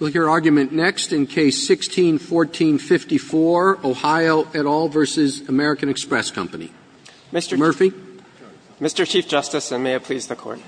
Roberts, your argument next in Case 16-1454, Ohio et al. v. American Express Company. Murphy. Murphy, Mr. Chief Justice, and may it please the Court.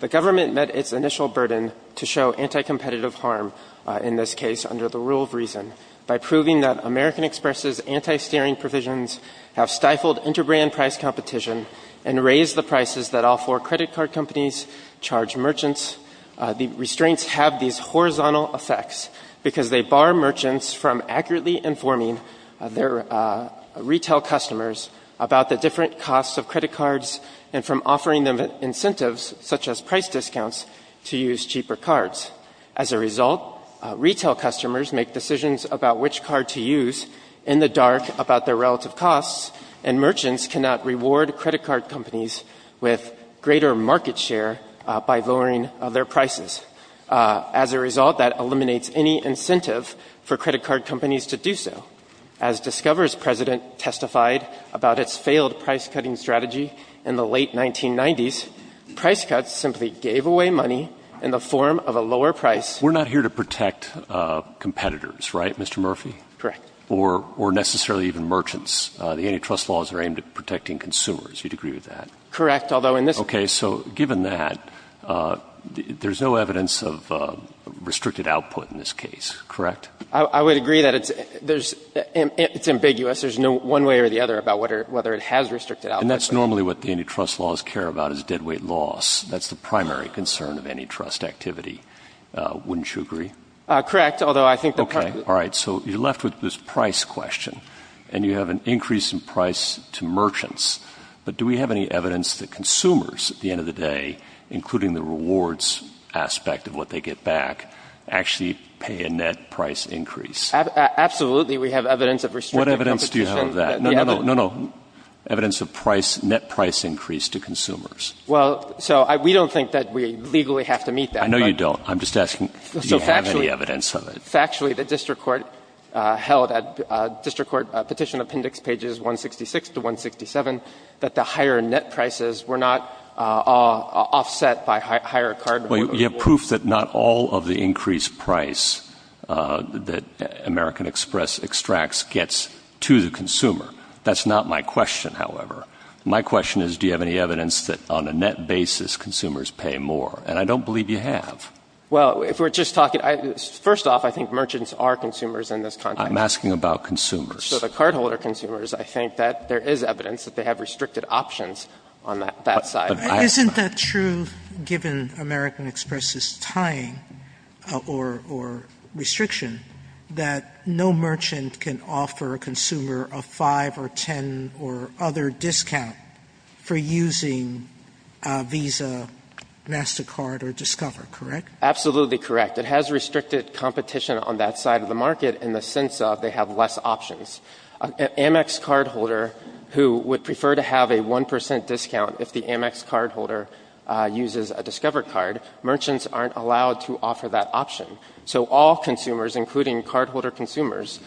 The government met its initial burden to show anti-competitive harm in this case under the rule of reason by proving that American Express's anti-steering provisions have stifled inter-brand price competition and raised the prices that all four credit card companies charge merchants. The restraints have these horizontal effects because they bar merchants from accurately informing their retail customers about the different costs of credit cards and from offering them incentives, such as price discounts, to use cheaper cards. As a result, retail customers make decisions about which card to use in the dark about their relative costs, and merchants cannot reward credit card companies with greater market share by lowering their prices. As a result, that eliminates any incentive for credit card companies to do so. As Discover's president testified about its failed price-cutting strategy in the late 1990s, price cuts simply gave away money in the form of a lower price. We're not here to protect competitors, right, Mr. Murphy? Correct. Or necessarily even merchants. The antitrust laws are aimed at protecting consumers. You'd agree with that? Correct, although in this case... Okay, so given that, there's no evidence of restricted output in this case, correct? I would agree that it's ambiguous. There's no one way or the other about whether it has restricted output. And that's normally what the antitrust laws care about, is deadweight loss. That's the primary concern of antitrust activity. Wouldn't you agree? Correct, although I think the... Okay, all right. So you're left with this price question, and you have an increase in price to merchants, but do we have any evidence that consumers, at the end of the day, including the rewards aspect of what they get back, actually pay a net price increase? Absolutely, we have evidence of restricted competition. What evidence do you have of that? No, no, no, evidence of price, net price increase to consumers. Well, so we don't think that we legally have to meet that. I know you don't. I'm just asking, do you have any evidence of it? Factually, the district court held at district court petition appendix pages 166 to 167 that the higher net prices were not offset by higher cardholders. Well, you have proof that not all of the increased price that American Express extracts gets to the consumer. That's not my question, however. My question is, do you have any evidence that on a net basis, consumers pay more? And I don't believe you have. Well, if we're just talking — first off, I think merchants are consumers in this context. I'm asking about consumers. So the cardholder consumers, I think that there is evidence that they have restricted options on that side. Isn't that true, given American Express's tying or restriction, that no merchant can offer a consumer a 5 or 10 or other discount for using Visa, MasterCard or Discover, correct? Absolutely correct. It has restricted competition on that side of the market in the sense of they have less options. An Amex cardholder who would prefer to have a 1 percent discount if the Amex cardholder uses a Discover card, merchants aren't allowed to offer that option. So all consumers, including cardholder consumers,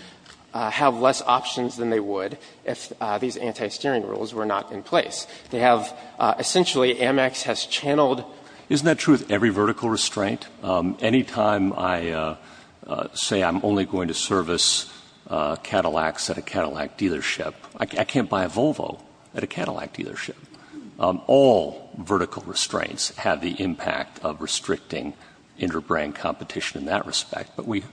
have less options than they would if these anti-steering rules were not in place. They have — essentially, Amex has channeled — Isn't that true with every vertical restraint? Anytime I say I'm only going to service Cadillacs at a Cadillac dealership, I can't buy a Volvo at a Cadillac dealership. All vertical restraints have the impact of restricting inter-brand competition in that respect. But we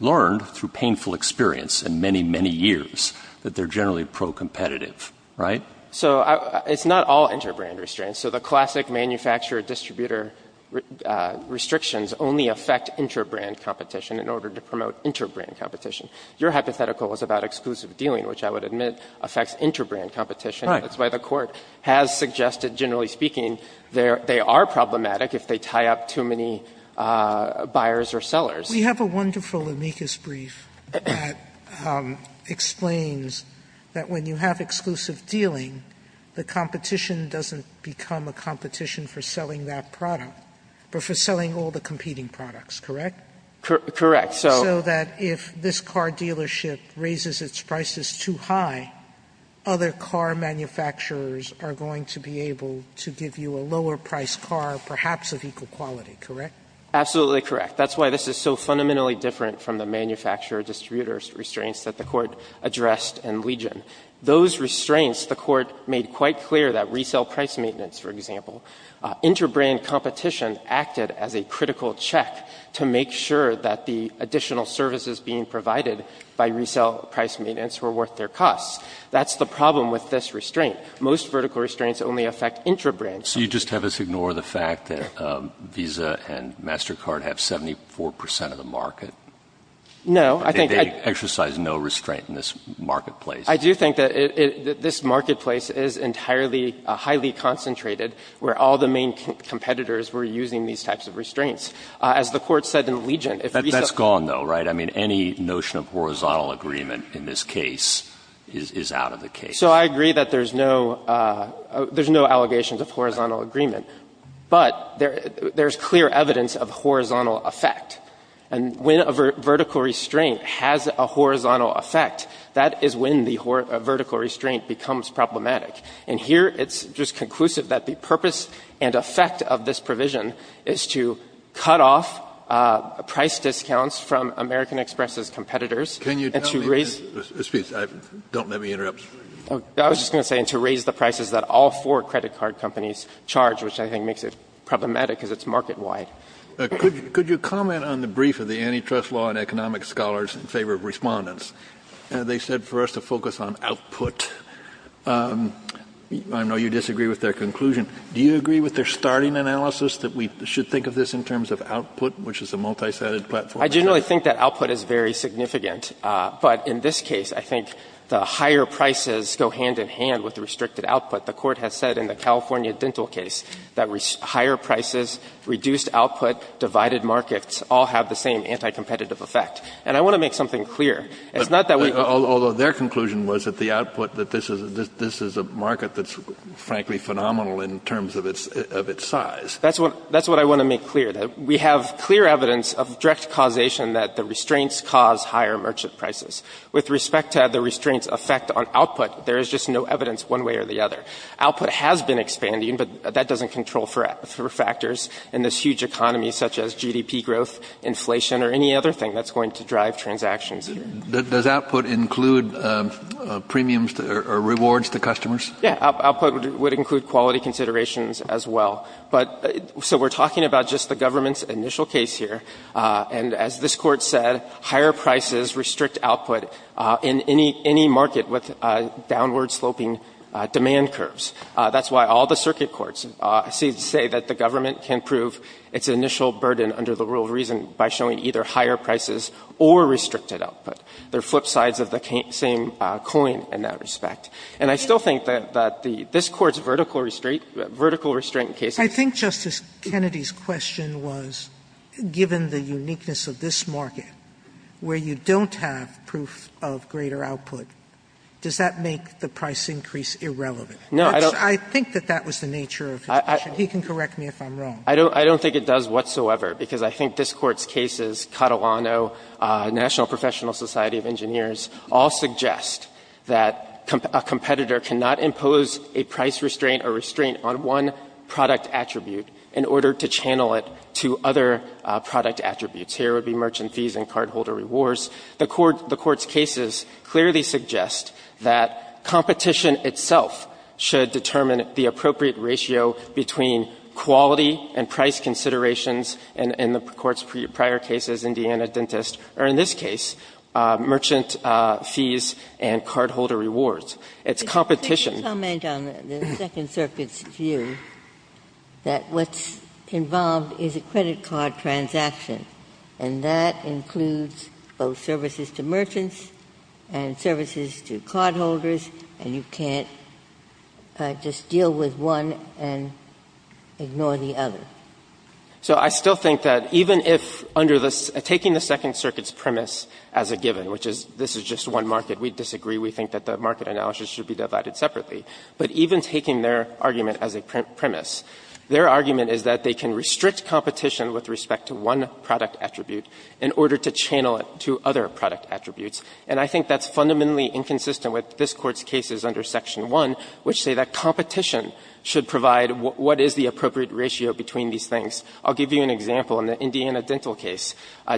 learned through painful experience and many, many years that they're generally pro-competitive, right? So it's not all inter-brand restraints. So the classic manufacturer-distributor restrictions only affect inter-brand competition in order to promote inter-brand competition. Your hypothetical was about exclusive dealing, which I would admit affects inter-brand competition. That's why the Court has suggested, generally speaking, they are problematic if they tie up too many buyers or sellers. We have a wonderful amicus brief that explains that when you have exclusive dealing, the competition doesn't become a competition for selling that product, but for selling all the competing products, correct? Correct. So that if this car dealership raises its prices too high, other car manufacturers are going to be able to give you a lower-priced car, perhaps of equal quality, correct? Absolutely correct. That's why this is so fundamentally different from the manufacturer-distributor restraints that the Court addressed in Legion. Those restraints, the Court made quite clear that resale price maintenance, for example, inter-brand competition acted as a critical check to make sure that the additional services being provided by resale price maintenance were worth their costs. That's the problem with this restraint. Most vertical restraints only affect inter-brand. So you just have us ignore the fact that Visa and MasterCard have 74 percent of the market? No, I think I do. They exercise no restraint in this marketplace. I do think that this marketplace is entirely, highly concentrated, where all the main competitors were using these types of restraints. As the Court said in Legion, if resale price maintenance is a critical check to make sure that the additional services being provided by resale price maintenance were worth their costs. That's gone, though, right? I mean, any notion of horizontal agreement in this case is out of the case. So I agree that there's no allegations of horizontal agreement, but there's clear evidence of horizontal effect. And when a vertical restraint has a horizontal effect, that is when the vertical restraint becomes problematic. And here it's just conclusive that the purpose and effect of this provision is to cut off price discounts from American Express's competitors and to raise the prices that all four credit card companies charge, which I think makes it problematic because it's market-wide. Could you comment on the brief of the Antitrust Law and Economic Scholars in favor of Respondents? They said for us to focus on output. I know you disagree with their conclusion. Do you agree with their starting analysis that we should think of this in terms of output, which is a multisided platform? I generally think that output is very significant. But in this case, I think the higher prices go hand in hand with the restricted output. The Court has said in the California dental case that higher prices, reduced output, divided markets, all have the same anti-competitive effect. And I want to make something clear. It's not that we don't Although their conclusion was that the output, that this is a market that's frankly phenomenal in terms of its size. That's what I want to make clear, that we have clear evidence of direct causation that the restraints cause higher merchant prices. With respect to the restraints' effect on output, there is just no evidence one way or the other. Output has been expanding, but that doesn't control for factors in this huge economy such as GDP growth, inflation, or any other thing that's going to drive transactions. Does output include premiums or rewards to customers? Yeah. Output would include quality considerations as well. But so we're talking about just the government's initial case here. And as this Court said, higher prices restrict output in any market with downward sloping demand curves. That's why all the circuit courts say that the government can prove its initial burden under the rule of reason by showing either higher prices or restricted output. They're flip sides of the same coin in that respect. And I still think that this Court's vertical restraint case I think Justice Kennedy's question was, given the uniqueness of this market, where you don't have proof of greater output, does that make the price increase irrelevant? I think that that was the nature of his question. He can correct me if I'm wrong. I don't think it does whatsoever, because I think this Court's cases, Catalano, National Professional Society of Engineers, all suggest that a competitor cannot impose a price restraint or restraint on one product attribute in order to channel it to other product attributes. Here would be merchant fees and cardholder rewards. The Court's cases clearly suggest that competition itself should determine the appropriate ratio between quality and price considerations, and in the Court's prior cases, Indiana Dentist, or in this case, merchant fees and cardholder rewards. It's competition. Ginsburg's comment on the Second Circuit's view that what's involved is a credit card transaction, and that includes both services to merchants and services to cardholders, and you can't just deal with one and ignore the other. So I still think that even if under the --" taking the Second Circuit's premise as a given, which is this is just one market, we disagree, we think that the market analysis should be divided separately. But even taking their argument as a premise, their argument is that they can restrict competition with respect to one product attribute in order to channel it to other product attributes. And I think that's fundamentally inconsistent with this Court's cases under Section 1, which say that competition should provide what is the appropriate ratio between these things. I'll give you an example. In the Indiana Dental case,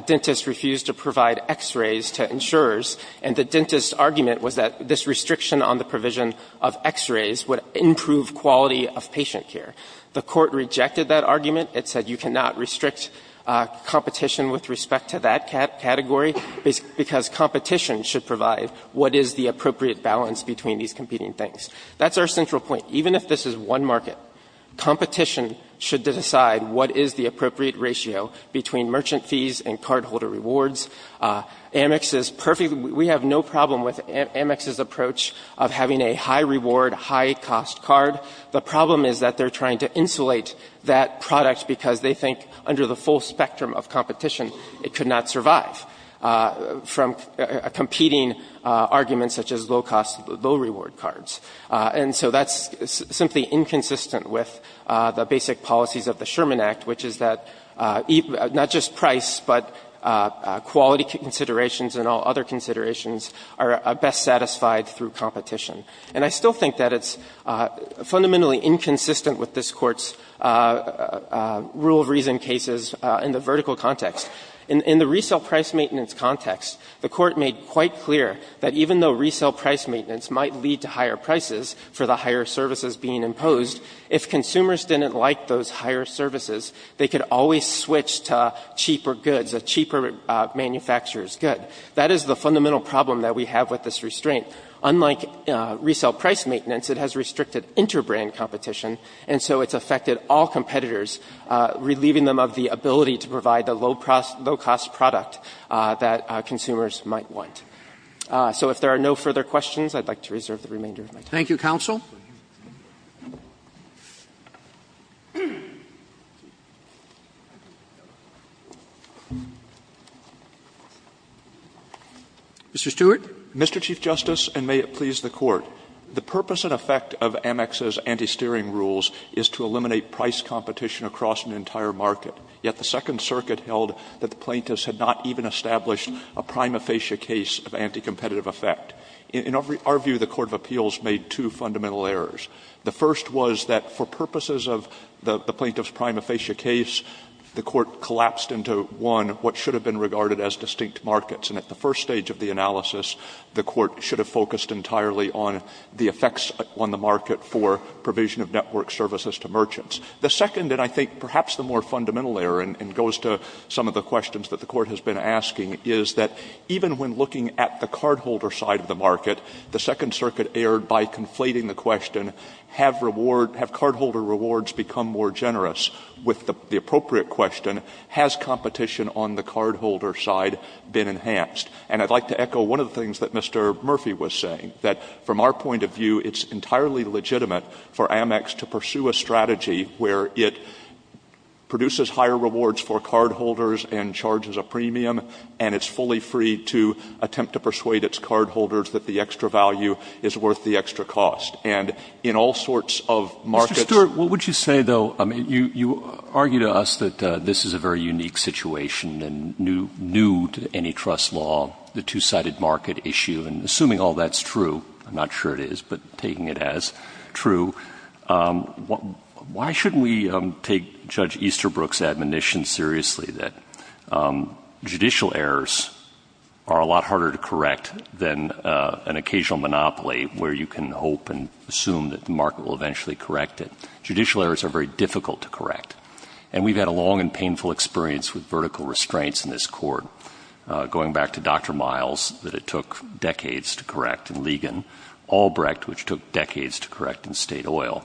dentists refused to provide x-rays to insurers, and the dentist's argument was that this restriction on the provision of x-rays would improve quality of patient care. The Court rejected that argument. It said you cannot restrict competition with respect to that category, because competition should provide what is the appropriate balance between these competing things. That's our central point. Even if this is one market, competition should decide what is the appropriate ratio between merchant fees and cardholder rewards. Amex is perfectly – we have no problem with Amex's approach of having a high-reward, high-cost card. The problem is that they're trying to insulate that product because they think under the full spectrum of competition, it could not survive from competing arguments such as low-cost, low-reward cards. And so that's simply inconsistent with the basic policies of the Sherman Act, which is that not just price, but quality considerations and all other considerations are best satisfied through competition. And I still think that it's fundamentally inconsistent with this Court's rule of reason cases in the vertical context. In the resale price maintenance context, the Court made quite clear that even though resale price maintenance might lead to higher prices for the higher services being imposed, if consumers didn't like those higher services, they could always switch to cheaper goods, a cheaper manufacturer's good. That is the fundamental problem that we have with this restraint. Unlike resale price maintenance, it has restricted inter-brand competition, and so it's affected all competitors, relieving them of the ability to provide the low-cost product that consumers might want. So if there are no further questions, I'd like to reserve the remainder of my time. Roberts. Roberts. Mr. Stewart. Mr. Chief Justice, and may it please the Court, the purpose and effect of Amex's anti-steering rules is to eliminate price competition across an entire market, yet the Second Circuit held that the plaintiffs had not even established a prime aphasia case of anti-competitive effect. In our view, the Court of Appeals made two fundamental errors. The first was that for purposes of the plaintiff's prime aphasia case, the Court collapsed into, one, what should have been regarded as distinct markets, and at the first stage of the analysis, the Court should have focused entirely on the effects on the market for provision of network services to merchants. The second, and I think perhaps the more fundamental error, and it goes to some of the questions that the Court has been asking, is that even when looking at the cardholder side of the market, the Second Circuit erred by conflating the question, have reward — have cardholder rewards become more generous with the appropriate question, has competition on the cardholder side been enhanced? And I'd like to echo one of the things that Mr. Murphy was saying, that from our point of view, it's entirely legitimate for Amex to pursue a strategy where it produces higher rewards for cardholders and charges a premium, and it's fully free to attempt to persuade its cardholders that the extra value is worth the extra cost. And in all sorts of markets — Mr. Stewart, what would you say, though — I mean, you argue to us that this is a very unique situation and new to any trust law, the two-sided market issue, and assuming all that's true — I'm not sure it is, but taking it as true — why shouldn't we take Judge Easterbrook's admonition seriously, that judicial errors are a lot harder to correct than an occasional monopoly, where you can hope and assume that the market will eventually correct it? Judicial errors are very difficult to correct, and we've had a long and painful experience with vertical restraints in this court. Going back to Dr. Miles, that it took decades to correct in Ligon, Albrecht, which took decades to correct in State Oil.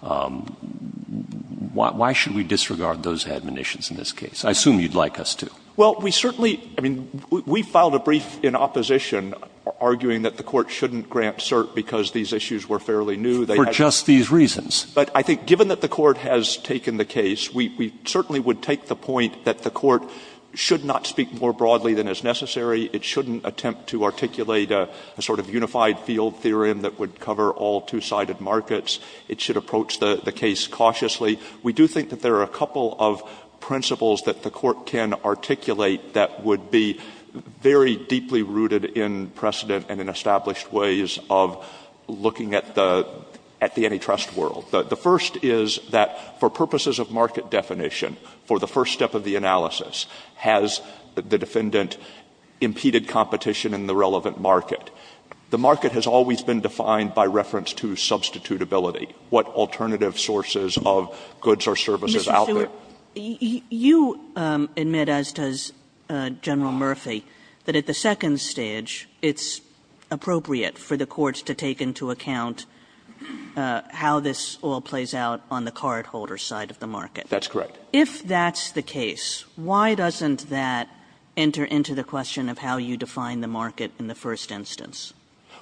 Why should we disregard those admonitions in this case? I assume you'd like us to. Well, we certainly — I mean, we filed a brief in opposition, arguing that the Court shouldn't grant cert because these issues were fairly new. They had — For just these reasons. But I think, given that the Court has taken the case, we certainly would take the point that the Court should not speak more broadly than is necessary. It shouldn't attempt to articulate a sort of unified field theorem that would cover all two-sided markets. It should approach the case cautiously. We do think that there are a couple of principles that the Court can articulate that would be very deeply rooted in precedent and in established ways of looking at the antitrust world. The first is that, for purposes of market definition, for the first step of the analysis, has the defendant impeded competition in the relevant market? The market has always been defined by reference to substitutability. What alternative sources of goods or services out there — Mr. Stewart, you admit, as does General Murphy, that at the second stage, it's appropriate for the Court to take into account how this all plays out on the cardholder's side of the market. That's correct. If that's the case, why doesn't that enter into the question of how you define the market in the first instance?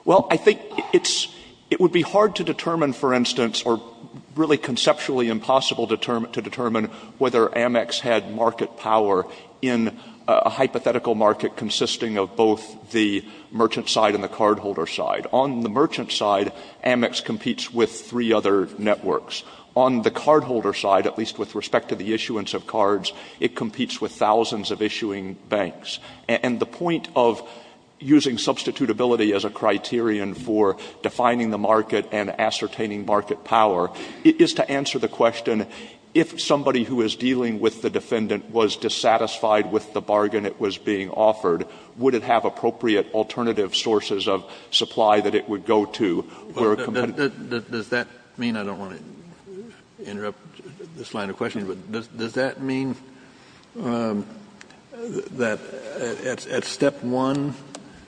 Well, I think it would be hard to determine, for instance, or really conceptually impossible to determine whether Amex had market power in a hypothetical market consisting of both the merchant side and the cardholder side. On the merchant side, Amex competes with three other networks. On the cardholder side, at least with respect to the issuance of cards, it competes with thousands of issuing banks. And the point of using substitutability as a criterion for defining the market and ascertaining market power is to answer the question, if somebody who is dealing with the defendant was dissatisfied with the bargain that was being offered, would it have appropriate alternative sources of supply that it would go to? Does that mean — I don't want to interrupt this line of questioning, but does that mean that at step one,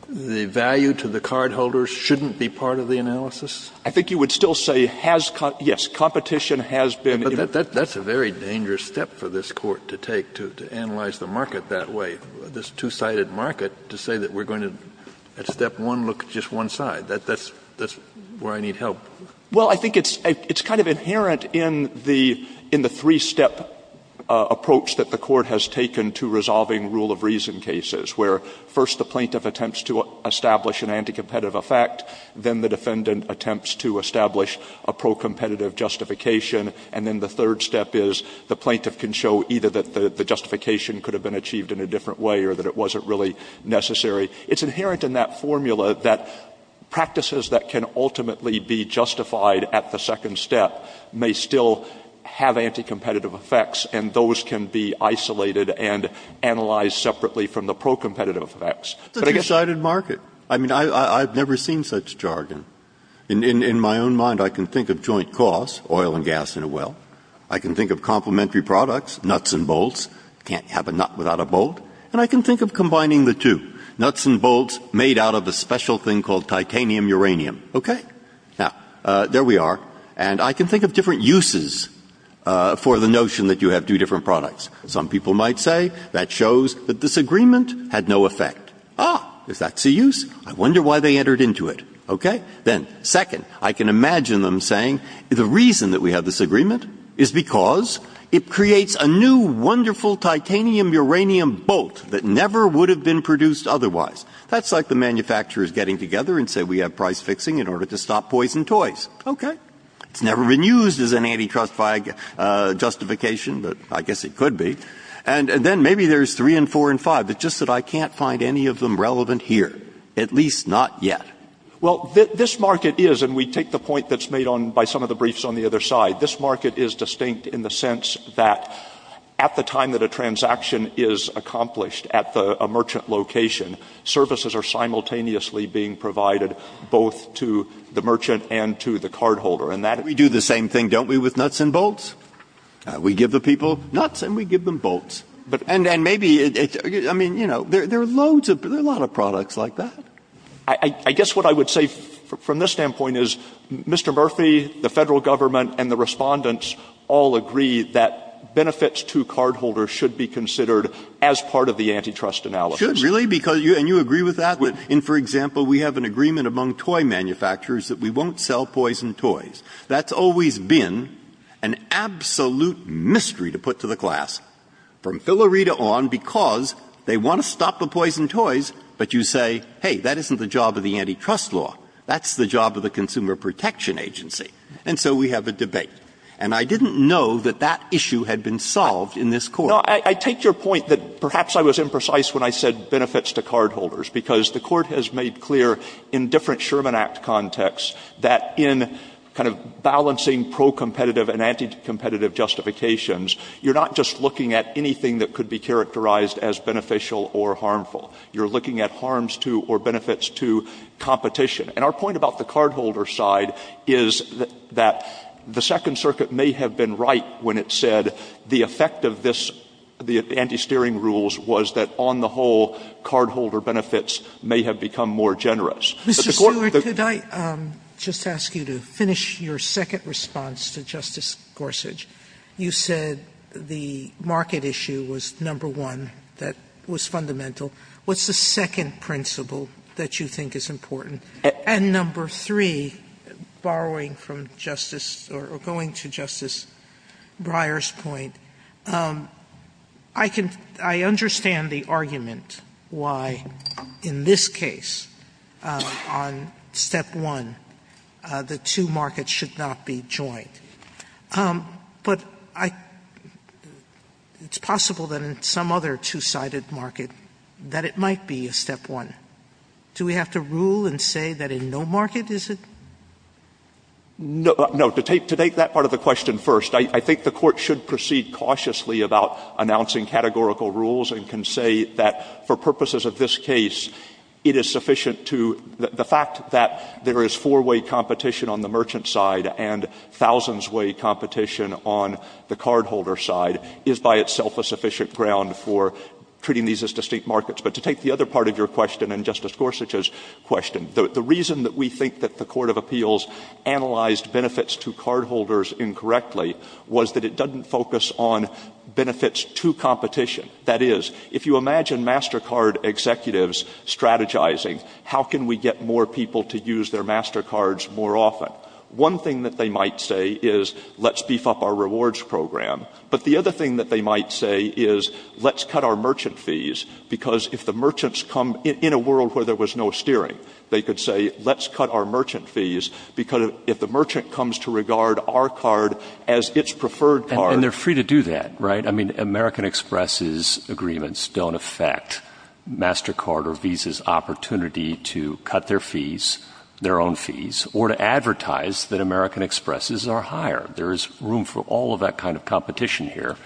the value to the cardholders shouldn't be part of the analysis? I think you would still say, has — yes, competition has been — But that's a very dangerous step for this Court to take, to analyze the market that way, this two-sided market, to say that we're going to, at step one, look at just one side. That's where I need help. Well, I think it's kind of inherent in the — in the three-step approach that the Court has taken to resolving rule-of-reason cases, where first the plaintiff attempts to establish an anti-competitive effect, then the defendant attempts to establish a pro-competitive justification, and then the third step is the plaintiff can show either that the justification could have been achieved in a different way or that it wasn't really necessary. It's inherent in that formula that practices that can ultimately be justified at the second step may still have anti-competitive effects, and those can be isolated and analyzed separately from the pro-competitive effects. It's a two-sided market. I mean, I've never seen such jargon. In my own mind, I can think of joint costs, oil and gas in a well. I can think of complementary products, nuts and bolts. Can't have a nut without a bolt. And I can think of combining the two, nuts and bolts made out of a special thing called titanium uranium. Okay? Now, there we are. And I can think of different uses for the notion that you have two different products. Some people might say that shows that this agreement had no effect. Ah, if that's a use, I wonder why they entered into it. Okay? Then, second, I can imagine them saying the reason that we have this agreement is because it creates a new, wonderful titanium uranium bolt that never would have been produced otherwise. That's like the manufacturers getting together and saying we have price fixing in order to stop poison toys. Okay. It's never been used as an antitrust justification, but I guess it could be. And then maybe there's three and four and five. It's just that I can't find any of them relevant here, at least not yet. Well, this market is, and we take the point that's made on by some of the briefs on the other side. This market is distinct in the sense that at the time that a transaction is accomplished at a merchant location, services are simultaneously being provided both to the merchant and to the cardholder. And that we do the same thing, don't we, with nuts and bolts? We give the people nuts and we give them bolts. And maybe, I mean, you know, there are loads of, there are a lot of products like that. I guess what I would say from this standpoint is Mr. Murphy, the Federal government, and the Respondents all agree that benefits to cardholders should be considered as part of the antitrust analysis. Breyer. Should really? Because you, and you agree with that? In, for example, we have an agreement among toy manufacturers that we won't sell poison toys. That's always been an absolute mystery to put to the class from Philarita on, because they want to stop the poison toys, but you say, hey, that isn't the job of the antitrust law, that's the job of the Consumer Protection Agency. And so we have a debate. And I didn't know that that issue had been solved in this Court. No, I take your point that perhaps I was imprecise when I said benefits to cardholders, because the Court has made clear in different Sherman Act contexts that in kind of balancing pro-competitive and anti-competitive justifications, you're not just looking at anything that could be characterized as beneficial or harmful. You're looking at harms to or benefits to competition. And our point about the cardholder side is that the Second Circuit may have been right when it said the effect of this, the anti-steering rules, was that on the whole, cardholder benefits may have become more generous, but the court thought that. Sotomayor, just to ask you to finish your second response to Justice Gorsuch, you said the market issue was number one that was fundamental. What's the second principle that you think is important? And number three, borrowing from Justice or going to Justice Breyer's point, I can – I understand the argument why in this case on step one, the two markets should not be joined, but I – it's possible that in some other two-sided market that it might be a step one. Do we have to rule and say that in no market is it? Stewart. No. To take that part of the question first, I think the Court should proceed cautiously about announcing categorical rules and can say that for purposes of this case, it is sufficient to – the fact that there is four-way competition on the merchant side and thousands-way competition on the cardholder side is by itself a sufficient ground for treating these as distinct markets. But to take the other part of your question and Justice Gorsuch's question, the reason that we think that the Court of Appeals analyzed benefits to cardholders incorrectly was that it doesn't focus on benefits to competition. That is, if you imagine MasterCard executives strategizing, how can we get more people to use their MasterCards more often? One thing that they might say is, let's beef up our rewards program, but the other thing that they might say is, let's cut our merchant fees, because if the merchants come in a world where there was no steering, they could say, let's cut our merchant fees, because if the merchant comes to regard our card as its preferred card – And they're free to do that, right? I mean, American Express's agreements don't affect MasterCard or Visa's opportunity to cut their fees, their own fees, or to advertise that American Express's are higher. There is room for all of that kind of competition here.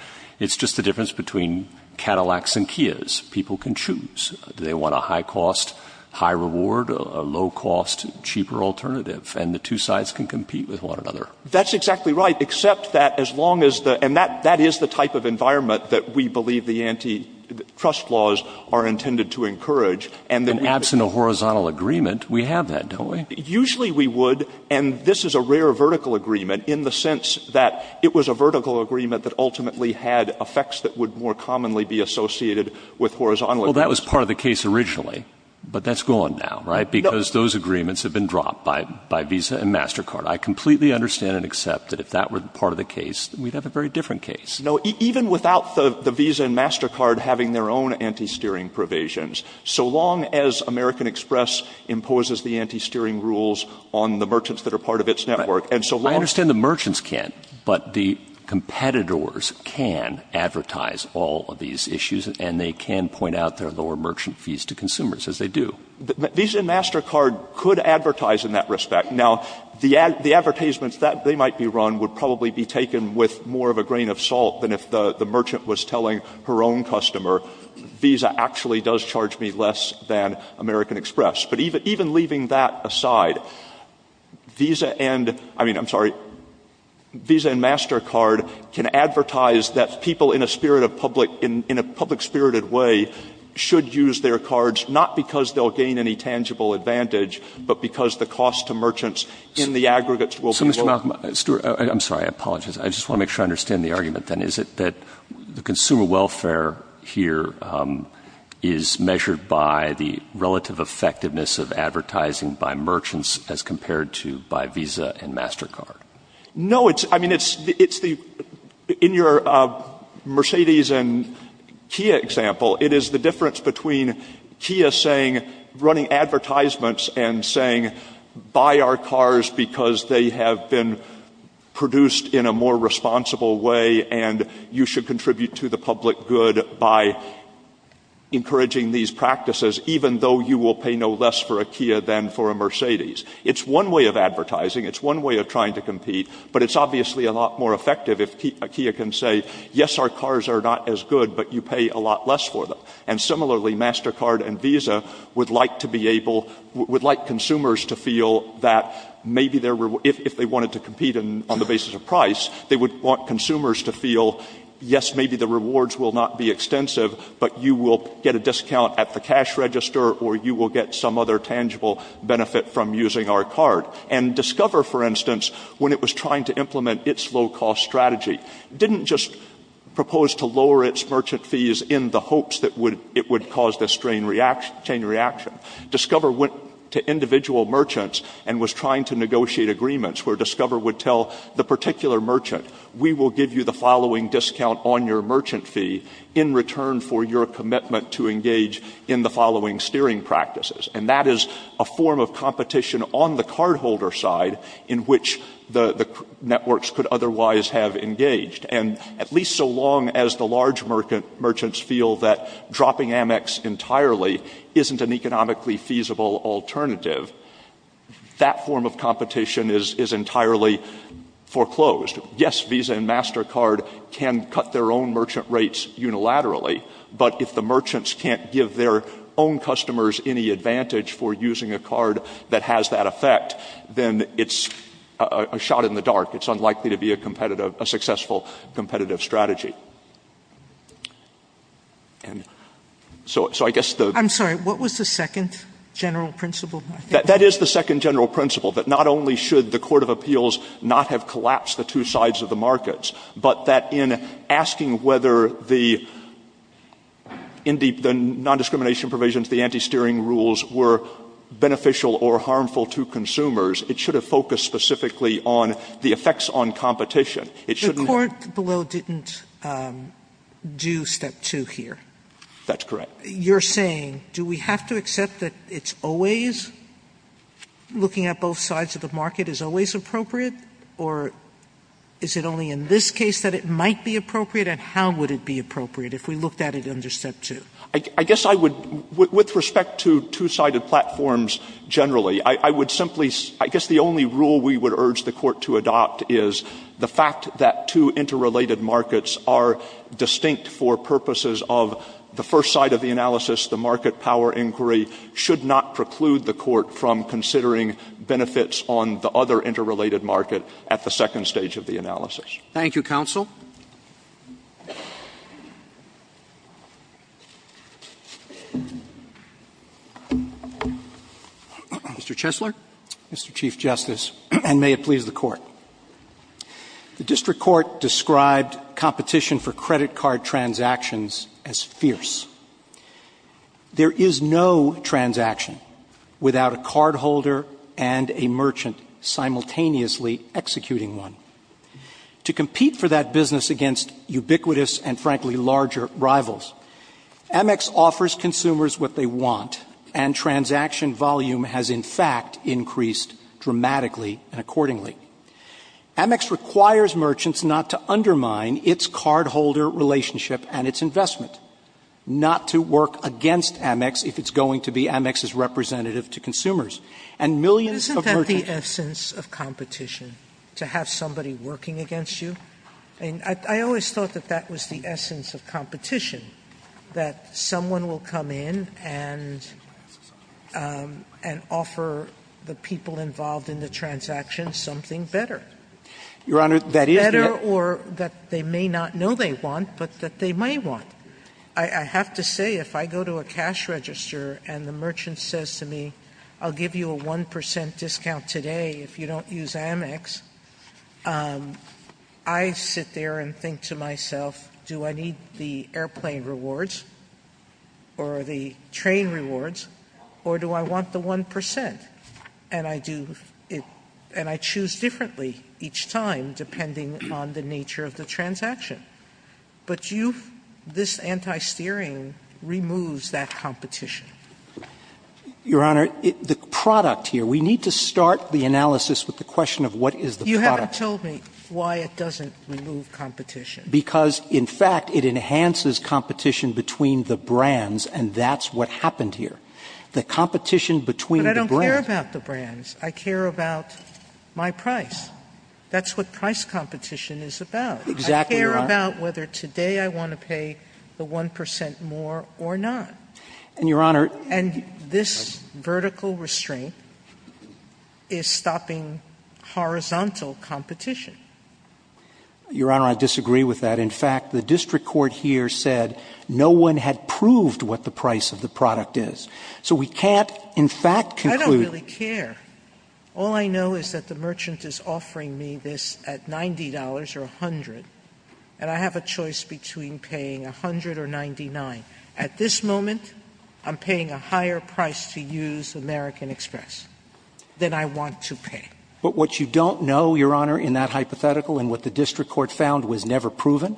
It's just the difference between Cadillacs and Kias. People can choose. Do they want a high-cost, high-reward, low-cost, cheaper alternative? And the two sides can compete with one another. That's exactly right, except that as long as the – and that is the type of environment that we believe the antitrust laws are intended to encourage. And then – Absent a horizontal agreement, we have that, don't we? Usually we would, and this is a rare vertical agreement in the sense that it was a vertical agreement that ultimately had effects that would more commonly be associated with horizontal agreements. Well, that was part of the case originally, but that's gone now, right? Because those agreements have been dropped by Visa and MasterCard. I completely understand and accept that if that were part of the case, we'd have a very different case. No, even without the Visa and MasterCard having their own anti-steering provisions, so long as American Express imposes the anti-steering rules on the merchants that are part of its network, and so long as – I understand the merchants can't, but the competitors can advertise all of these issues, and they can point out their lower merchant fees to consumers, as they do. Visa and MasterCard could advertise in that respect. Now, the advertisements that they might be run would probably be taken with more of a grain of salt than if the merchant was telling her own customer, Visa actually does charge me less than American Express. But even leaving that aside, Visa and – I mean, I'm sorry – Visa and MasterCard can advertise that people in a spirit of public – in a public-spirited way should use their cards, not because they'll gain any tangible advantage, but because the cost to merchants in the aggregates will be low. So, Mr. Malcolm, Stuart – I'm sorry, I apologize. I just want to make sure I understand the argument, then. Is it that the consumer welfare here is measured by the relative effectiveness of advertising by merchants as compared to by Visa and MasterCard? No, it's – I mean, it's the – in your Mercedes and Kia example, it is the difference between Kia saying – running advertisements and saying, buy our cars because they have been produced in a more responsible way and you should contribute to the public good by encouraging these practices, even though you will pay no less for a Kia than for a Mercedes. It's one way of advertising. It's one way of trying to compete. But it's obviously a lot more effective if Kia can say, yes, our cars are not as good, but you pay a lot less for them. And similarly, MasterCard and Visa would like to be able – would like consumers to feel that maybe their – if they wanted to compete on the basis of price, they would want consumers to feel, yes, maybe the rewards will not be extensive, but you will get a discount at the cash register or you will get some other tangible benefit from using our card. And Discover, for instance, when it was trying to implement its low-cost strategy, didn't just propose to lower its merchant fees in the hopes that it would cause this chain reaction. Discover went to individual merchants and was trying to negotiate agreements where Discover would tell the particular merchant, we will give you the following discount on your merchant fee in return for your commitment to engage in the following steering practices. And that is a form of competition on the cardholder side in which the networks could otherwise have engaged. And at least so long as the large merchants feel that dropping Amex entirely isn't an economically feasible alternative, that form of competition is entirely foreclosed. Yes, Visa and MasterCard can cut their own merchant rates unilaterally, but if the merchants can't give their own customers any advantage for using a card that has that effect, then it's a shot in the dark. It's unlikely to be a competitive – a successful competitive strategy. And so I guess the – Sotomayor, I'm sorry, what was the second general principle? That is the second general principle, that not only should the court of appeals not have collapsed the two sides of the markets, but that in asking whether the non-discrimination provisions, the anti-steering rules, were beneficial or harmful to consumers, it should have focused specifically on the effects on competition. It shouldn't have – The court below didn't do step two here. That's correct. You're saying, do we have to accept that it's always – looking at both sides of the market is always appropriate, or is it only in this case that it might be appropriate, and how would it be appropriate if we looked at it under step two? I guess I would – with respect to two-sided platforms generally, I would simply – I guess the only rule we would urge the court to adopt is the fact that two interrelated markets are distinct for purposes of the first side of the analysis. The market power inquiry should not preclude the court from considering benefits on the other interrelated market at the second stage of the analysis. Thank you, counsel. Mr. Chesler. The district court described competition for credit card transactions as fierce. There is no transaction without a cardholder and a merchant simultaneously executing one. To compete for that business against ubiquitous and, frankly, larger rivals, Amex offers consumers what they want, and transaction volume has, in fact, increased dramatically and accordingly. Amex requires merchants not to undermine its cardholder relationship and its investment, not to work against Amex if it's going to be Amex's representative to consumers. Sotomayor, isn't that the essence of competition, to have somebody working against you? I mean, I always thought that that was the essence of competition, that someone will come in and offer the people involved in the transaction something better. Your Honor, that is the essence. Better or that they may not know they want, but that they may want. I have to say, if I go to a cash register and the merchant says to me, I'll give you a 1 percent discount today if you don't use Amex, I sit there and think to myself, do I need the airplane rewards or the train rewards, or do I want the 1 percent? And I do it and I choose differently each time depending on the nature of the transaction. But you've – this anti-steering removes that competition. Your Honor, the product here, we need to start the analysis with the question of what is the product. You haven't told me why it doesn't remove competition. Because, in fact, it enhances competition between the brands, and that's what happened here. The competition between the brands – But I don't care about the brands. I care about my price. That's what price competition is about. Exactly, Your Honor. I care about whether today I want to pay the 1 percent more or not. And, Your Honor – And this vertical restraint is stopping horizontal competition. Your Honor, I disagree with that. In fact, the district court here said no one had proved what the price of the product is. So we can't, in fact, conclude – I don't really care. All I know is that the merchant is offering me this at $90 or $100, and I have a choice between paying $100 or $99. At this moment, I'm paying a higher price to use American Express than I want to pay. But what you don't know, Your Honor, in that hypothetical and what the district court found was never proven,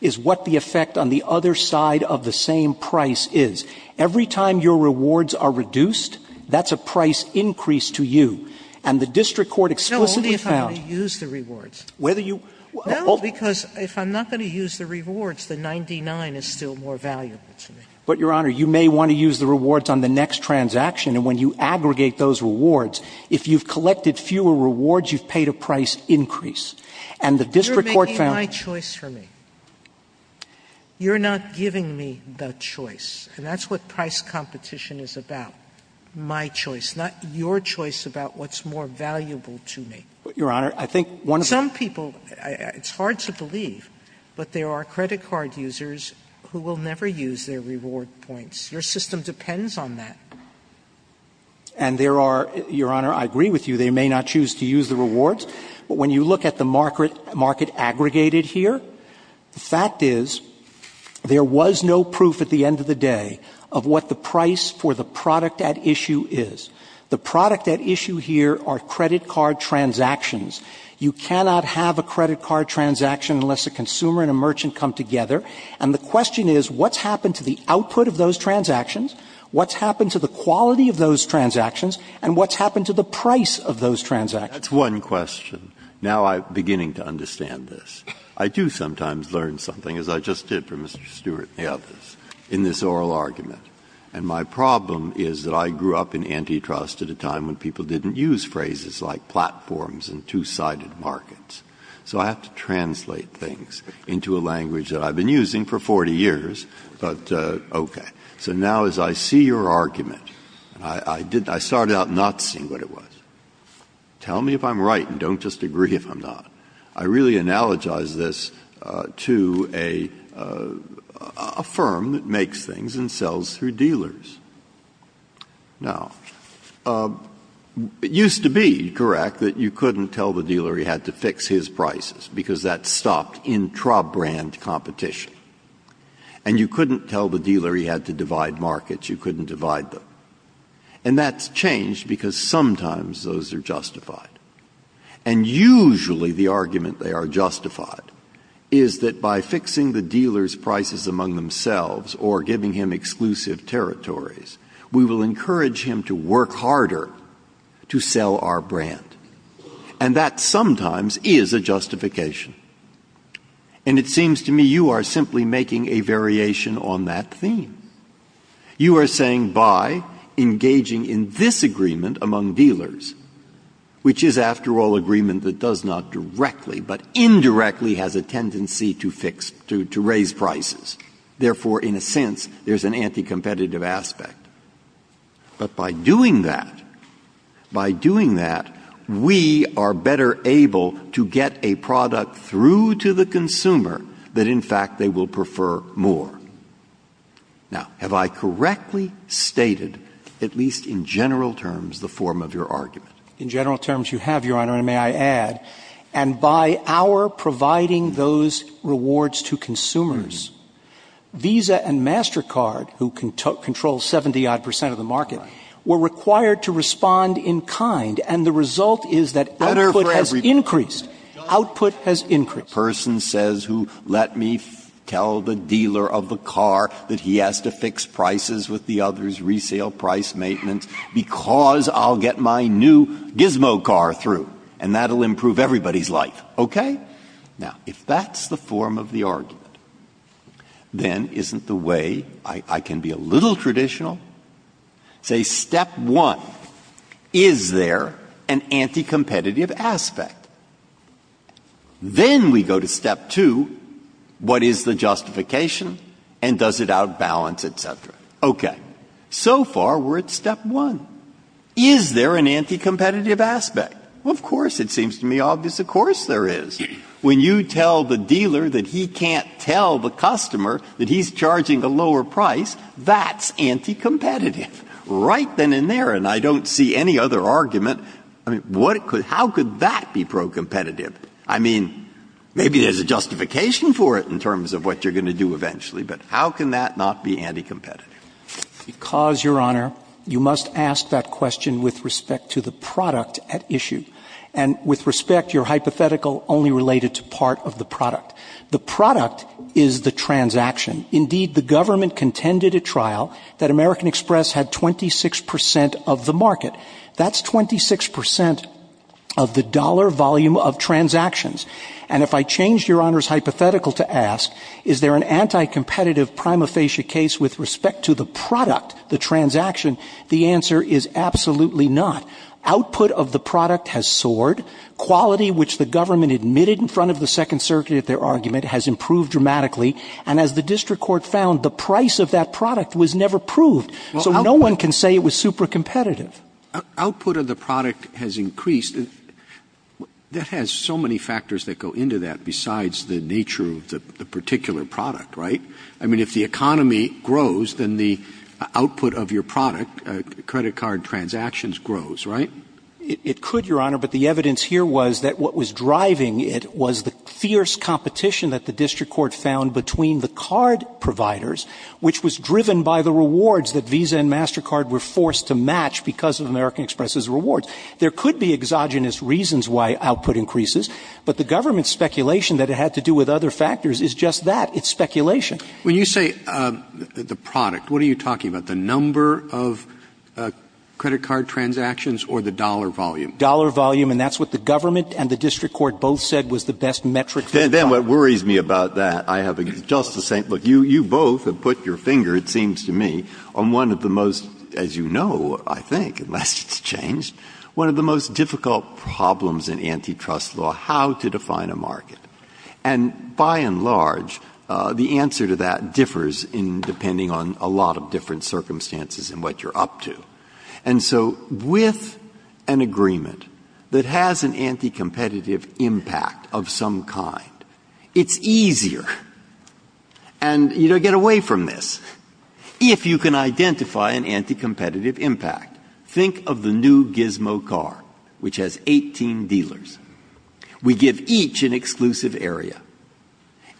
is what the effect on the other side of the same price is. Every time your rewards are reduced, that's a price increase to you. And the district court explicitly found – No, only if I'm going to use the rewards. Whether you – No, because if I'm not going to use the rewards, the $99 is still more valuable to me. But, Your Honor, you may want to use the rewards on the next transaction, and when you aggregate those rewards, if you've collected fewer rewards, you've paid a price increase. And the district court found – You're making my choice for me. You're not giving me the choice. And that's what price competition is about, my choice, not your choice about what's more valuable to me. Your Honor, I think one of the – Some people – it's hard to believe, but there are credit card users who will never use their reward points. Your system depends on that. And there are – Your Honor, I agree with you. They may not choose to use the rewards. But when you look at the market aggregated here, the fact is, there was no proof at the end of the day of what the price for the product at issue is. The product at issue here are credit card transactions. You cannot have a credit card transaction unless a consumer and a merchant come together. And the question is, what's happened to the output of those transactions? What's happened to the quality of those transactions? And what's happened to the price of those transactions? That's one question. Now I'm beginning to understand this. I do sometimes learn something, as I just did for Mr. Stewart and the others, in this oral argument. And my problem is that I grew up in antitrust at a time when people didn't use phrases like platforms and two-sided markets. So I have to translate things into a language that I've been using for 40 years. But okay. So now as I see your argument, I started out not seeing what it was. Tell me if I'm right and don't just agree if I'm not. I really analogize this to a firm that makes things and sells through dealers. Now, it used to be correct that you couldn't tell the dealer he had to fix his prices because that stopped intra-brand competition. And you couldn't tell the dealer he had to divide markets. You couldn't divide them. And that's changed because sometimes those are justified. And usually the argument they are justified is that by fixing the dealer's prices among themselves or giving him exclusive territories, we will encourage him to work harder to sell our brand. And that sometimes is a justification. And it seems to me you are simply making a variation on that theme. You are saying by engaging in this agreement among dealers, which is, after all, an agreement that does not directly, but indirectly has a tendency to fix, to raise prices. Therefore, in a sense, there's an anti-competitive aspect. But by doing that, by doing that, we are better able to get a product through to the consumer that, in fact, they will prefer more. Now, have I correctly stated, at least in general terms, the form of your argument? In general terms, you have, Your Honor, and may I add, and by our providing those rewards to consumers, Visa and MasterCard, who control 70-odd percent of the market, were required to respond in kind, and the result is that output has increased. Output has increased. A person says, let me tell the dealer of the car that he has to fix prices with the others, resale, price, maintenance, because I'll get my new gizmo car through, and that will improve everybody's life. Okay? Now, if that's the form of the argument, then isn't the way I can be a little traditional, say, step one, is there an anti-competitive aspect? Then we go to step two, what is the justification and does it outbalance, et cetera. Okay. So far, we're at step one. Is there an anti-competitive aspect? Well, of course, it seems to me obvious, of course there is. When you tell the dealer that he can't tell the customer that he's charging a lower price, that's anti-competitive. Right then and there, and I don't see any other argument. I mean, how could that be pro-competitive? I mean, maybe there's a justification for it in terms of what you're going to do eventually, but how can that not be anti-competitive? Because, Your Honor, you must ask that question with respect to the product at issue, and with respect, your hypothetical only related to part of the product. The product is the transaction. Indeed, the government contended at trial that American Express had 26% of the market. That's 26% of the dollar volume of transactions. And if I change Your Honor's hypothetical to ask, is there an anti-competitive prima facie case with respect to the product, the transaction, the answer is absolutely not. Output of the product has soared. Quality, which the government admitted in front of the Second Circuit at their argument, has improved dramatically. And as the district court found, the price of that product was never proved. So no one can say it was super-competitive. Output of the product has increased. That has so many factors that go into that besides the nature of the particular product, right? I mean, if the economy grows, then the output of your product, credit card transactions, grows, right? It could, Your Honor, but the evidence here was that what was driving it was the fierce competition that the district court found between the card providers, which was driven by the rewards that Visa and MasterCard were forced to match because of American Express's rewards. There could be exogenous reasons why output increases, but the government's speculation that it had to do with other factors is just that. It's speculation. When you say the product, what are you talking about? The number of credit card transactions or the dollar volume? Dollar volume, and that's what the government and the district court both said was the best metric. Then what worries me about that, I have just the same. Look, you both have put your finger, it seems to me, on one of the most, as you know, I think, unless it's changed, one of the most difficult problems in antitrust law, how to define a market. And by and large, the answer to that differs in depending on a lot of different circumstances and what you're up to. And so with an agreement that has an anticompetitive impact of some kind, it's easier, and you know, get away from this. If you can identify an anticompetitive impact, think of the new Gizmo car, which has 18 dealers. We give each an exclusive area.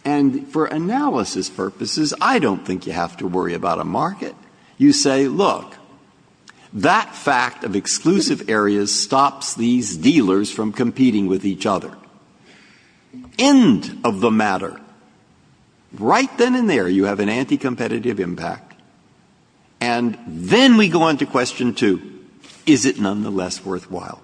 And for analysis purposes, I don't think you have to worry about a market. You say, look, that fact of exclusive areas stops these dealers from competing with each other. End of the matter. Right then and there, you have an anticompetitive impact. And then we go on to question two. Is it nonetheless worthwhile?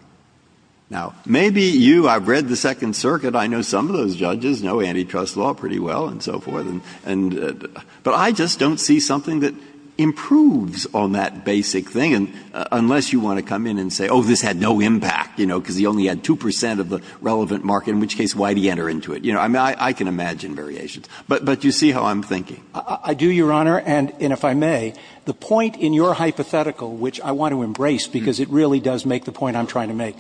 Now, maybe you, I've read the Second Circuit. I know some of those judges know antitrust law pretty well and so forth. But I just don't see something that improves on that basic thing, unless you want to come in and say, oh, this had no impact, you know, because he only had 2 percent of the relevant market, in which case, why did he enter into it? You know, I can imagine variations. But you see how I'm thinking. I do, Your Honor. And if I may, the point in your hypothetical, which I want to embrace, because it really does make the point I'm trying to make,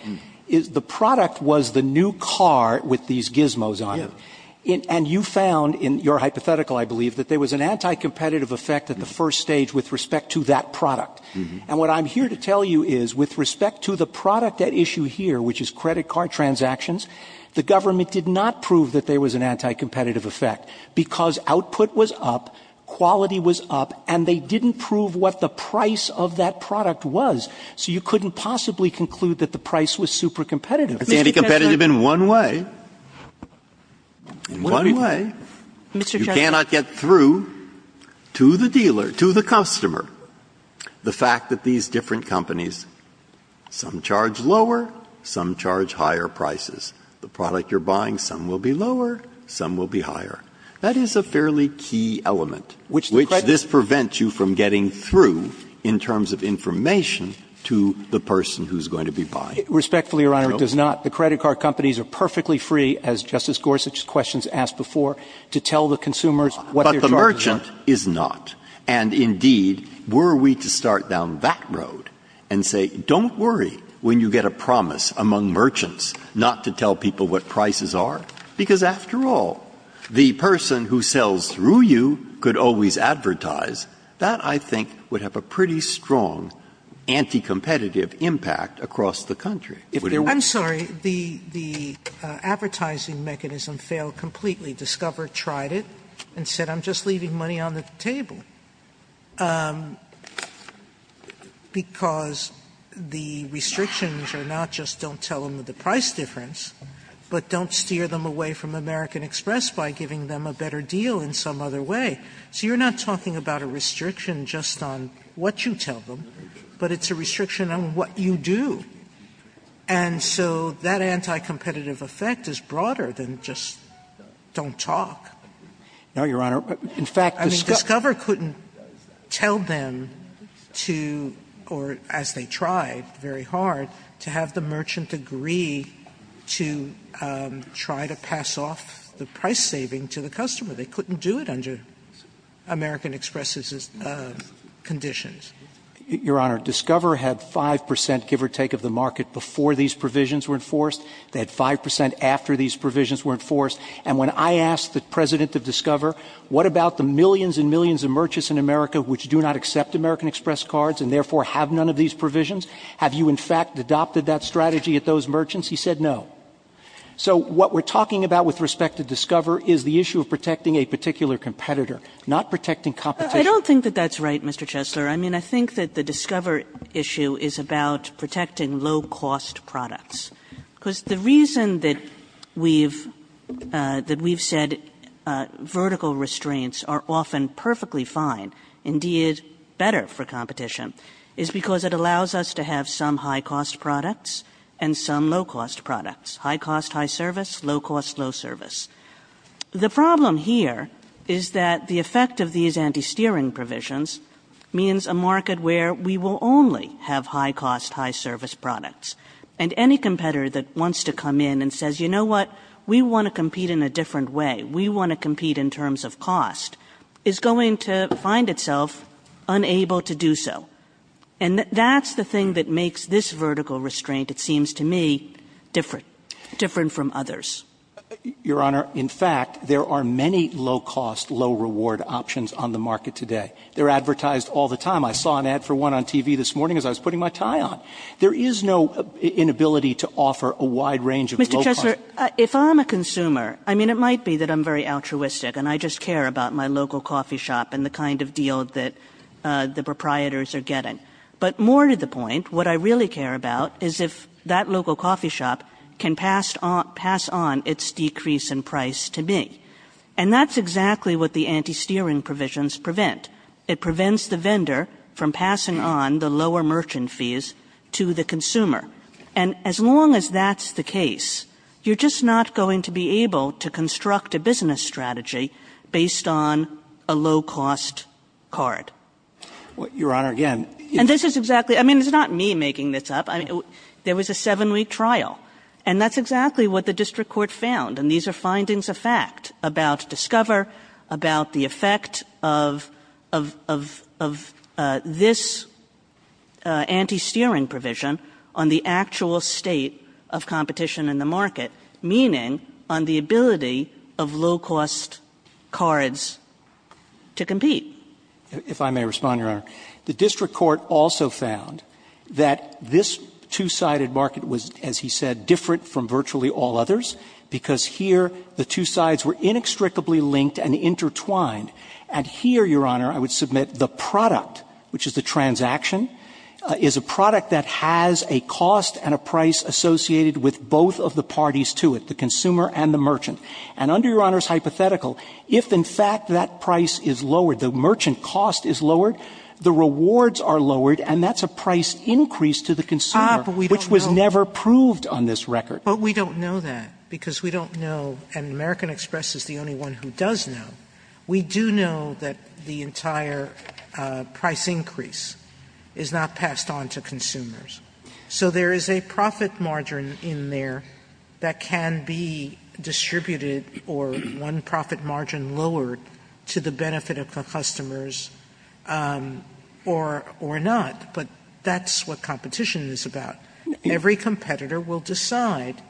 is the product was the new car with these Gizmos on it. And you found in your hypothetical, I believe, that there was an anticompetitive effect at the first stage with respect to that product. And what I'm here to tell you is, with respect to the product at issue here, which is credit card transactions, the government did not prove that there was an anticompetitive effect, because output was up, quality was up, and they didn't prove what the price of that product was. So you couldn't possibly conclude that the price was supercompetitive. It's anticompetitive in one way. In one way. You cannot get through to the dealer, to the customer, the fact that these different companies, some charge lower, some charge higher prices. The product you're buying, some will be lower, some will be higher. That is a fairly key element, which this prevents you from getting through in terms of information to the person who's going to be buying. Respectfully, Your Honor, it does not. The credit card companies are perfectly free, as Justice Gorsuch's questions asked before, to tell the consumers what they're charged with. But the merchant is not. And indeed, were we to start down that road and say, don't worry when you get a promise among merchants not to tell people what prices are? Because, after all, the person who sells through you could always advertise. That, I think, would have a pretty strong anticompetitive impact across the country. If there weren't. Sotomayor, I'm sorry. The advertising mechanism failed completely. Discover tried it and said, I'm just leaving money on the table. And the reason why they said that is because the restrictions are not just don't tell them the price difference, but don't steer them away from American Express by giving them a better deal in some other way. So you're not talking about a restriction just on what you tell them, but it's a restriction on what you do. And so that anticompetitive effect is broader than just don't talk. No, Your Honor. In fact, Discover couldn't tell them to, or as they tried very hard, to have the merchant agree to try to pass off the price saving to the customer. They couldn't do it under American Express's conditions. Your Honor, Discover had 5 percent, give or take, of the market before these provisions were enforced. They had 5 percent after these provisions were enforced. And when I asked the president of Discover, what about the millions and millions of merchants in America which do not accept American Express cards and therefore have none of these provisions? Have you, in fact, adopted that strategy at those merchants? He said no. So what we're talking about with respect to Discover is the issue of protecting a particular competitor, not protecting competition. I don't think that that's right, Mr. Chesler. I mean, I think that the Discover issue is about protecting low-cost products. Because the reason that we've said vertical restraints are often perfectly fine, indeed better for competition, is because it allows us to have some high-cost products and some low-cost products. High-cost, high-service, low-cost, low-service. The problem here is that the effect of these anti-steering provisions means a market where we will only have high-cost, high-service products. And any competitor that wants to come in and says, you know what? We want to compete in a different way. We want to compete in terms of cost, is going to find itself unable to do so. And that's the thing that makes this vertical restraint, it seems to me, different. Different from others. Your Honor, in fact, there are many low-cost, low-reward options on the market today. They're advertised all the time. I saw an ad for one on TV this morning as I was putting my tie on. There is no inability to offer a wide range of low-cost. Mr. Chesler, if I'm a consumer, I mean, it might be that I'm very altruistic and I just care about my local coffee shop and the kind of deal that the proprietors are getting. But more to the point, what I really care about is if that local coffee shop can pass on its decrease in price to me. And that's exactly what the anti-steering provisions prevent. It prevents the vendor from passing on the lower merchant fees to the consumer. And as long as that's the case, you're just not going to be able to construct a business strategy based on a low-cost card. Your Honor, again. And this is exactly, I mean, it's not me making this up. There was a seven-week trial. And that's exactly what the district court found. And these are findings of fact about Discover, about the effect of this anti-steering provision on the actual state of competition in the market, meaning on the ability of low-cost cards to compete. If I may respond, Your Honor. The district court also found that this two-sided market was, as he said, different from virtually all others because here the two sides were inextricably linked and intertwined. And here, Your Honor, I would submit the product, which is the transaction, is a product that has a cost and a price associated with both of the parties to it, the consumer and the merchant. And under Your Honor's hypothetical, if in fact that price is lowered, the merchant cost is lowered, the rewards are lowered, and that's a price increase to the consumer which was never proved on this record. But we don't know that because we don't know, and American Express is the only one who does know, we do know that the entire price increase is not passed on to consumers. So there is a profit margin in there that can be distributed or one profit margin lowered to the benefit of the customers or not. But that's what competition is about. Every competitor will decide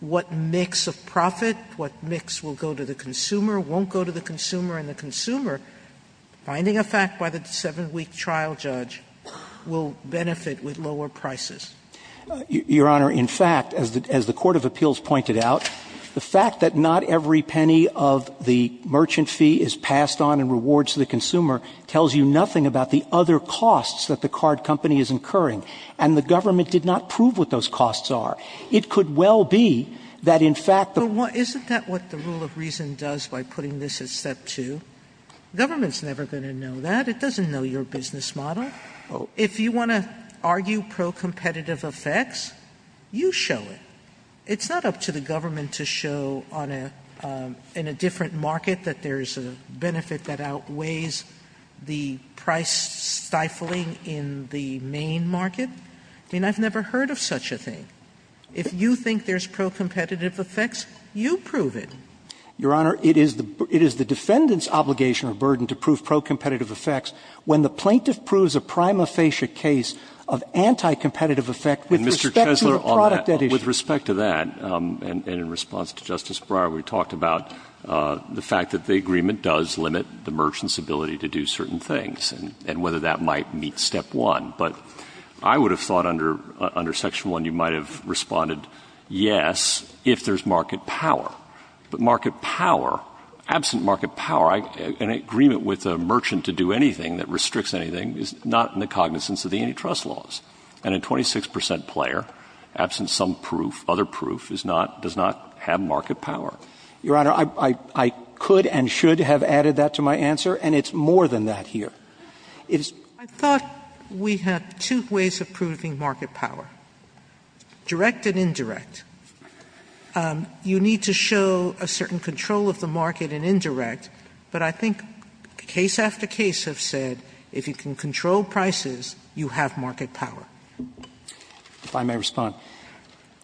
what mix of profit, what mix will go to the consumer, won't go to the consumer, and the consumer, finding a fact by the 7-week trial judge, will benefit with lower prices. Your Honor, in fact, as the Court of Appeals pointed out, the fact that not every penny of the merchant fee is passed on in rewards to the consumer tells you nothing about the other costs that the card company is incurring. And the government did not prove what those costs are. It could well be that in fact the— But isn't that what the rule of reason does by putting this at step two? Government's never going to know that. It doesn't know your business model. If you want to argue pro-competitive effects, you show it. It's not up to the government to show in a different market that there's a benefit that outweighs the price stifling in the main market. I mean, I've never heard of such a thing. If you think there's pro-competitive effects, you prove it. Your Honor, it is the defendant's obligation or burden to prove pro-competitive effects when the plaintiff proves a prima facie case of anti-competitive effect with respect to a product at issue. Mr. Chesler, on that, with respect to that, and in response to Justice Breyer, we talked about the fact that the agreement does limit the merchant's ability to do certain things and whether that might meet step one. But I would have thought under Section 1 you might have responded, yes, if there's market power. But market power, absent market power, an agreement with a merchant to do anything that restricts anything is not in the cognizance of the antitrust laws. And a 26 percent player, absent some proof, other proof, is not, does not have market power. Your Honor, I could and should have added that to my answer, and it's more than that here. It is... I thought we had two ways of proving market power, direct and indirect. You need to show a certain control of the market in indirect, but I think case after case have said if you can control prices, you have market power. If I may respond.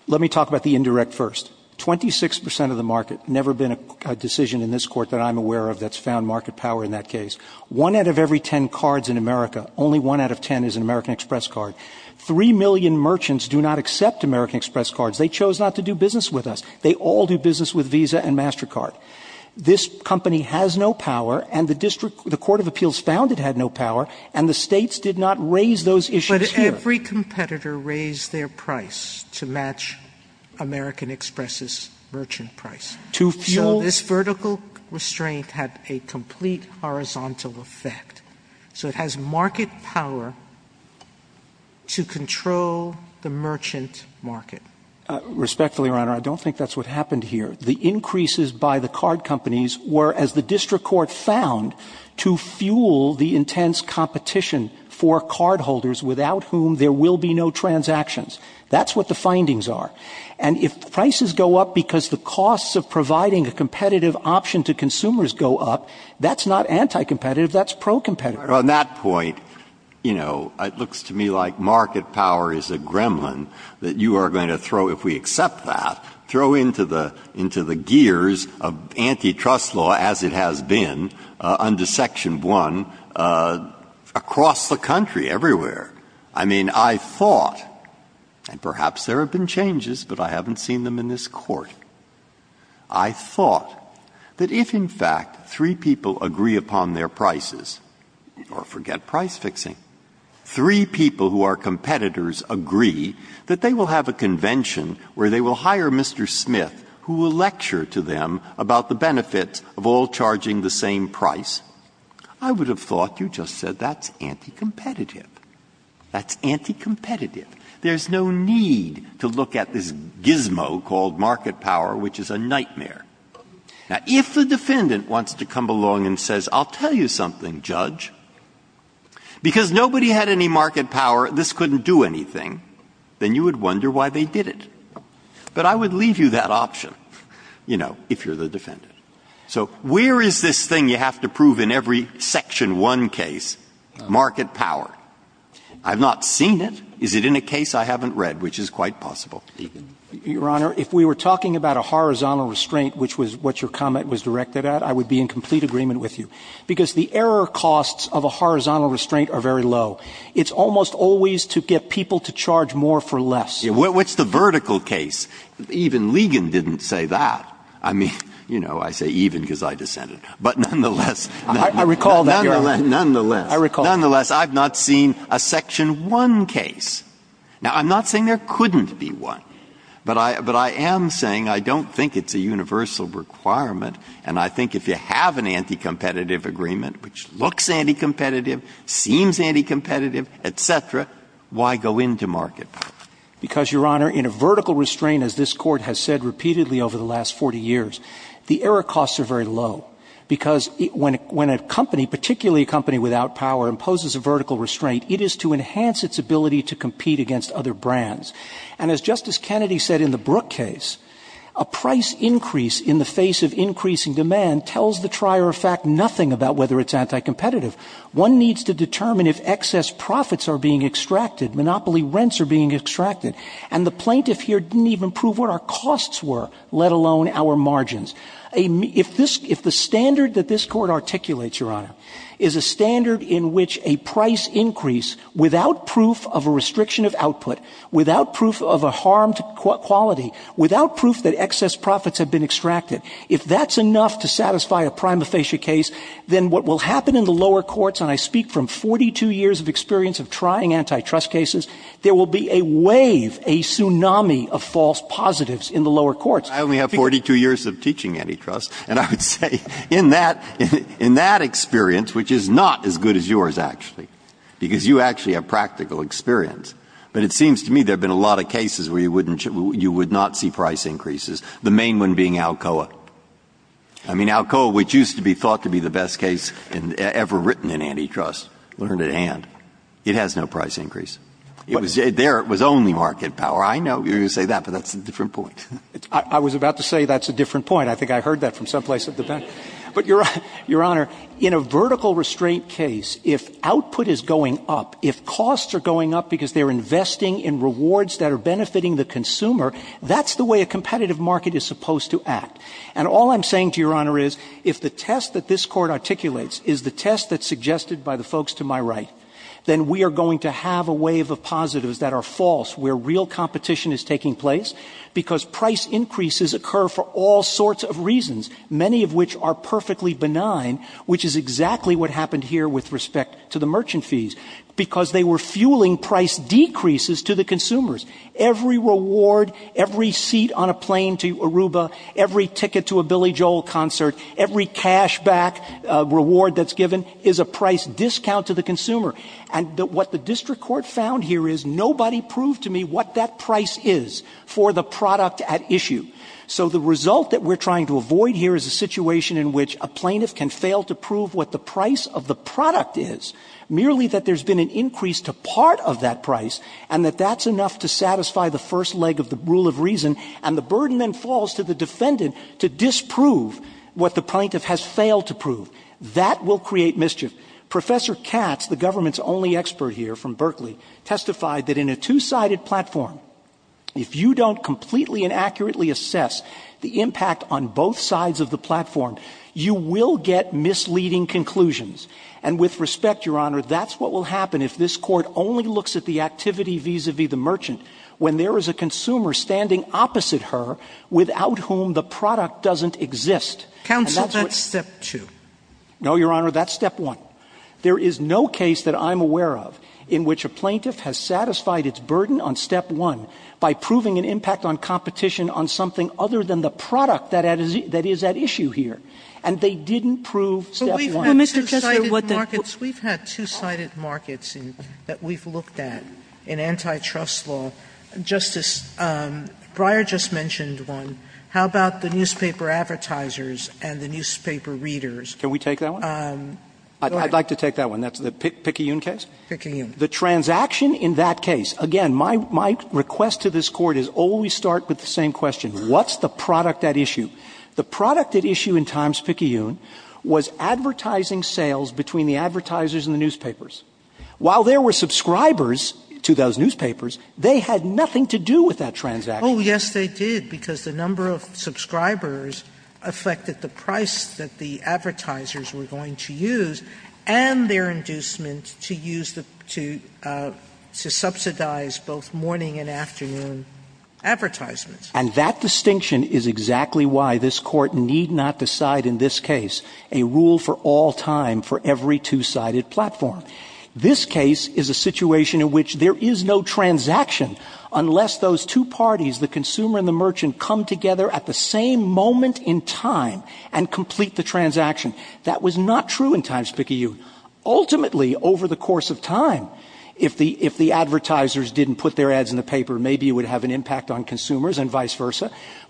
Let me talk about the indirect first. Twenty-six percent of the market, never been a decision in this Court that I'm aware of that's found market power in that case. One out of every ten cards in America, only one out of ten is an American Express card. Three million merchants do not accept American Express cards. They chose not to do business with us. They all do business with Visa and MasterCard. This company has no power, and the District, the Court of Appeals found it had no power, and the States did not raise those issues here. But every competitor raised their price to match American Express's merchant price. To fuel... So this vertical restraint had a complete horizontal effect. So it has market power to control the merchant market. Respectfully, Your Honor, I don't think that's what happened here. The increases by the card companies were, as the District Court found, to fuel the intense competition for cardholders without whom there will be no transactions. That's what the findings are. And if prices go up because the costs of providing a competitive option to consumers go up, that's not anti-competitive. That's pro-competitive. On that point, you know, it looks to me like market power is a gremlin that you are going to throw, if we accept that, throw into the gears of antitrust law as it has been under Section 1 across the country, everywhere. I mean, I thought, and perhaps there have been changes, but I haven't seen them in this Court. I thought that if, in fact, three people agree upon their prices, or forget price convention, where they will hire Mr. Smith, who will lecture to them about the benefits of all charging the same price, I would have thought you just said that's anti-competitive. That's anti-competitive. There's no need to look at this gizmo called market power, which is a nightmare. Now, if the defendant wants to come along and says, I'll tell you something, judge, because nobody had any market power, this couldn't do anything, then you would wonder why they did it. But I would leave you that option, you know, if you're the defendant. So where is this thing you have to prove in every Section 1 case, market power? I've not seen it. Is it in a case I haven't read, which is quite possible? Your Honor, if we were talking about a horizontal restraint, which was what your comment was directed at, I would be in complete agreement with you, because the error costs of a horizontal restraint are very low. It's almost always to get people to charge more for less. What's the vertical case? Even Ligon didn't say that. I mean, you know, I say even because I dissented. But nonetheless. I recall that, Your Honor. Nonetheless. I recall that. Nonetheless, I've not seen a Section 1 case. Now, I'm not saying there couldn't be one. But I am saying I don't think it's a universal requirement. And I think if you have an anti-competitive agreement, which looks anti-competitive, seems anti-competitive, et cetera, why go into market power? Because, Your Honor, in a vertical restraint, as this Court has said repeatedly over the last 40 years, the error costs are very low. Because when a company, particularly a company without power, imposes a vertical restraint, it is to enhance its ability to compete against other brands. And as Justice Kennedy said in the Brooke case, a price increase in the face of increasing demand tells the trier of fact nothing about whether it's anti-competitive. One needs to determine if excess profits are being extracted, monopoly rents are being extracted. And the plaintiff here didn't even prove what our costs were, let alone our margins. If the standard that this Court articulates, Your Honor, is a standard in which a price increase without proof of a restriction of output, without proof of a harmed quality, without proof that excess profits have been extracted, if that's enough to satisfy a prima facie case, then what will happen in the lower courts, and I speak from 42 years of experience of trying antitrust cases, there will be a wave, a tsunami of false positives in the lower courts. I only have 42 years of teaching antitrust, and I would say in that, in that experience, which is not as good as yours actually, because you actually have practical experience, but it seems to me there have been a lot of cases where you would not see price increases, the main one being Alcoa. I mean, Alcoa, which used to be thought to be the best case ever written in antitrust, learned at hand. It has no price increase. There it was only market power. I know you're going to say that, but that's a different point. I was about to say that's a different point. I think I heard that from someplace at the back. But, Your Honor, in a vertical restraint case, if output is going up, if costs are going up because they're investing in rewards that are benefiting the consumer, that's the way a competitive market is supposed to act. And all I'm saying to Your Honor is if the test that this Court articulates is the test that's suggested by the folks to my right, then we are going to have a wave of positives that are false where real competition is taking place because price increases occur for all sorts of reasons, many of which are perfectly benign, which is exactly what happened here with respect to the merchant fees, because they were fueling price decreases to the consumers. Every reward, every seat on a plane to Aruba, every ticket to a Billy Joel concert, every cash back reward that's given is a price discount to the consumer. And what the District Court found here is nobody proved to me what that price is for the product at issue. So the result that we're trying to avoid here is a situation in which a plaintiff can fail to prove what the price of the product is, merely that there's been an increase to part of that price, and that that's enough to satisfy the first leg of the rule of reason, and the burden then falls to the defendant to disprove what the plaintiff has failed to prove. That will create mischief. Professor Katz, the government's only expert here from Berkeley, testified that in a two-sided platform, if you don't completely and accurately assess the impact on both sides of the platform, you will get misleading conclusions. And with respect, Your Honor, that's what will happen if this Court only looks at the activity vis-a-vis the merchant, when there is a consumer standing opposite her without whom the product doesn't exist. And that's what — Counsel, that's Step 2. No, Your Honor, that's Step 1. There is no case that I'm aware of in which a plaintiff has satisfied its burden on Step 1 by proving an impact on competition on something other than the product that is at issue here. And they didn't prove Step 1. Sotomayor, we've had two-sided markets that we've looked at in antitrust law. Justice Breyer just mentioned one. How about the newspaper advertisers and the newspaper readers? Can we take that one? I'd like to take that one. That's the Picayune case? Picayune. The transaction in that case. Again, my request to this Court is always start with the same question. What's the product at issue? The product at issue in Times Picayune was advertising sales between the advertisers and the newspapers. While there were subscribers to those newspapers, they had nothing to do with that transaction. Oh, yes, they did, because the number of subscribers affected the price that the advertisers were going to use and their inducement to use the — to subsidize both morning and afternoon advertisements. And that distinction is exactly why this Court need not decide in this case a rule for all time for every two-sided platform. This case is a situation in which there is no transaction unless those two parties, the consumer and the merchant, come together at the same moment in time and complete the transaction. That was not true in Times Picayune. Ultimately, over the course of time, if the advertisers didn't put their ads in the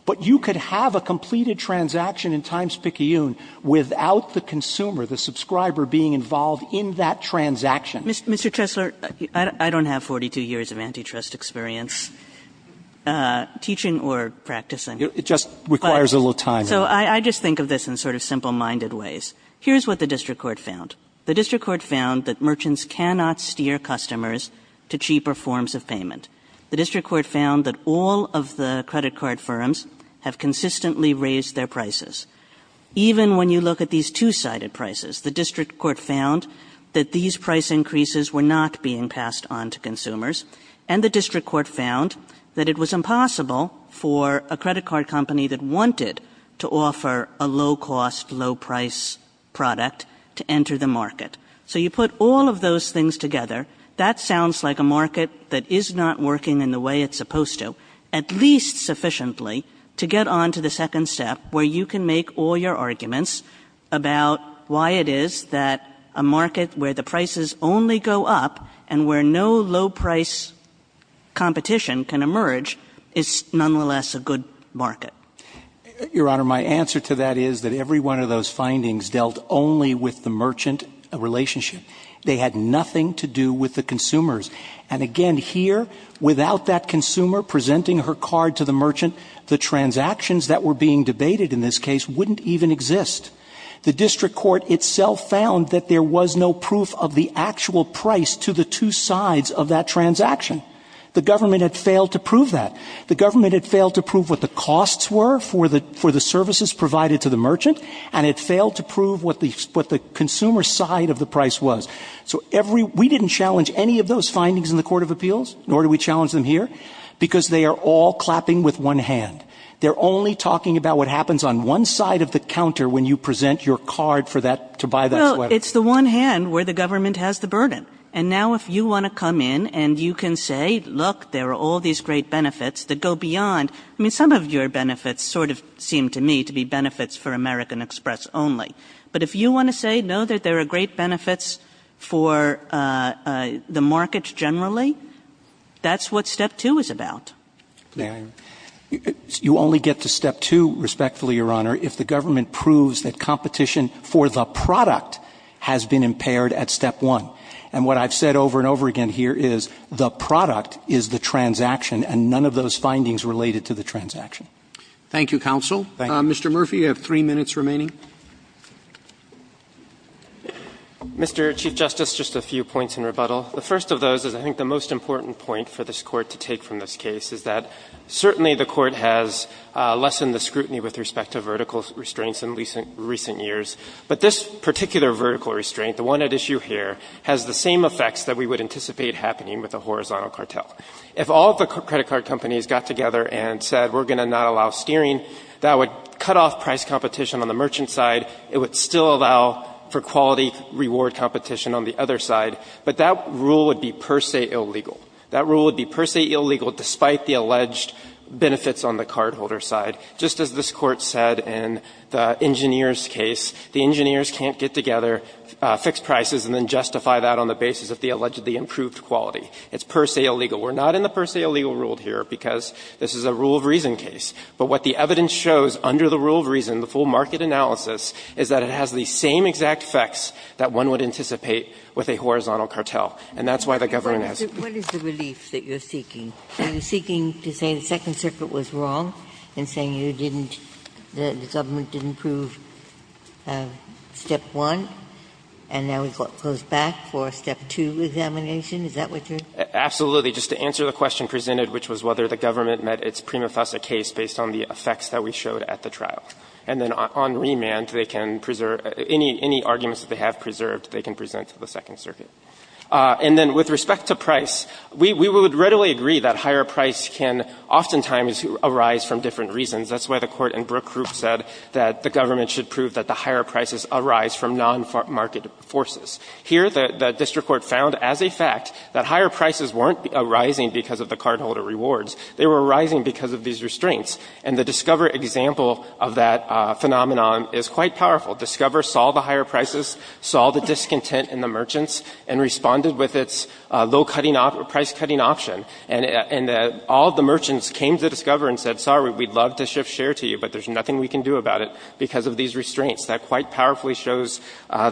But you could have a completed transaction in Times Picayune without the consumer, the subscriber, being involved in that transaction. Mr. Chesler, I don't have 42 years of antitrust experience teaching or practicing. It just requires a little time. So I just think of this in sort of simple-minded ways. Here's what the district court found. The district court found that merchants cannot steer customers to cheaper forms of payment. The district court found that all of the credit card firms have consistently raised their prices. Even when you look at these two-sided prices, the district court found that these price increases were not being passed on to consumers. And the district court found that it was impossible for a credit card company that wanted to offer a low-cost, low-price product to enter the market. So you put all of those things together. That sounds like a market that is not working in the way it's supposed to, at least sufficiently, to get on to the second step where you can make all your arguments about why it is that a market where the prices only go up and where no low-price competition can emerge is nonetheless a good market. Your Honor, my answer to that is that every one of those findings dealt only with the merchant relationship. They had nothing to do with the consumers. And again, here, without that consumer presenting her card to the merchant, the transactions that were being debated in this case wouldn't even exist. The district court itself found that there was no proof of the actual price to the two sides of that transaction. The government had failed to prove that. The government had failed to prove what the costs were for the services provided to the merchant, and it failed to prove what the consumer side of the price was. So we didn't challenge any of those findings in the Court of Appeals, nor do we challenge them here, because they are all clapping with one hand. They're only talking about what happens on one side of the counter when you present your card to buy that sweater. Well, it's the one hand where the government has the burden. And now if you want to come in and you can say, look, there are all these great benefits that go beyond. I mean, some of your benefits sort of seem to me to be benefits for American Express only. But if you want to say, no, there are great benefits for the market generally, that's what Step 2 is about. You only get to Step 2, respectfully, Your Honor, if the government proves that competition for the product has been impaired at Step 1. And what I've said over and over again here is the product is the transaction, and none of those findings related to the transaction. Thank you, counsel. Mr. Murphy, you have three minutes remaining. Mr. Chief Justice, just a few points in rebuttal. The first of those is I think the most important point for this Court to take from this case is that certainly the Court has lessened the scrutiny with respect to vertical restraints in recent years. But this particular vertical restraint, the one at issue here, has the same effects that we would anticipate happening with a horizontal cartel. If all of the credit card companies got together and said, we're going to not allow steering, that would cut off price competition on the merchant side. It would still allow for quality reward competition on the other side. But that rule would be per se illegal. That rule would be per se illegal despite the alleged benefits on the cardholder side. Just as this Court said in the engineer's case, the engineers can't get together, fix prices, and then justify that on the basis of the allegedly improved quality. It's per se illegal. We're not in the per se illegal rule here because this is a rule of reason case. But what the evidence shows under the rule of reason, the full market analysis, is that it has the same exact effects that one would anticipate with a horizontal cartel. And that's why the government has to do it. Ginsburg, what is the relief that you're seeking? Are you seeking to say the Second Circuit was wrong in saying you didn't, the government didn't prove step one, and now we've got to close back for a step two examination? Is that what you're saying? Absolutely. Just to answer the question presented, which was whether the government met its prima fossa case based on the effects that we showed at the trial. And then on remand, they can preserve any arguments that they have preserved, they can present to the Second Circuit. And then with respect to price, we would readily agree that higher price can oftentimes arise from different reasons. That's why the Court in Brooke Group said that the government should prove that the higher prices arise from non-market forces. Here, the district court found as a fact that higher prices weren't arising because of the cardholder rewards. They were arising because of these restraints. And the Discover example of that phenomenon is quite powerful. Discover saw the higher prices, saw the discontent in the merchants, and responded with its low-cutting option, price-cutting option. And all the merchants came to Discover and said, sorry, we'd love to shift share to you, but there's nothing we can do about it because of these restraints. That quite powerfully shows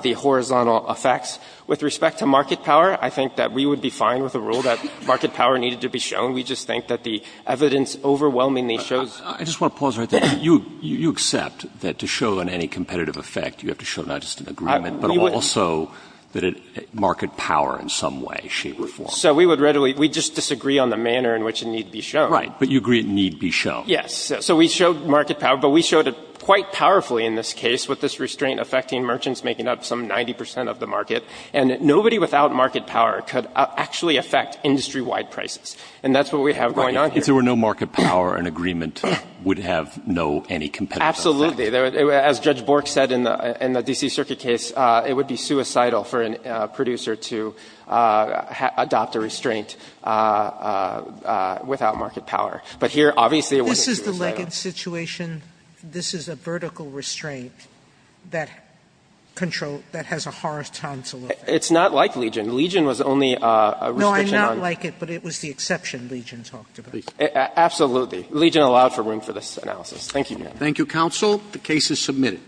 the horizontal effects. With respect to market power, I think that we would be fine with a rule that market power needed to be shown. We just think that the evidence overwhelmingly shows. Roberts. I just want to pause right there. You accept that to show on any competitive effect, you have to show not just an agreement, but also that market power in some way, shape, or form. So we would readily we just disagree on the manner in which it need be shown. Right. But you agree it need be shown. Yes. So we showed market power, but we showed it quite powerfully in this case with this restraint affecting merchants making up some 90 percent of the market. And nobody without market power could actually affect industry-wide prices. And that's what we have going on here. If there were no market power, an agreement would have no, any competitive effect. Absolutely. As Judge Bork said in the D.C. Circuit case, it would be suicidal for a producer to adopt a restraint without market power. But here, obviously, it wouldn't be suicidal. This is the legged situation. This is a vertical restraint that control, that has a horizontal effect. It's not like Legion. Legion was only a restriction on. No, I'm not like it, but it was the exception Legion talked about. Legion allowed for room for this analysis. Thank you, Your Honor. Thank you, counsel. The case is submitted.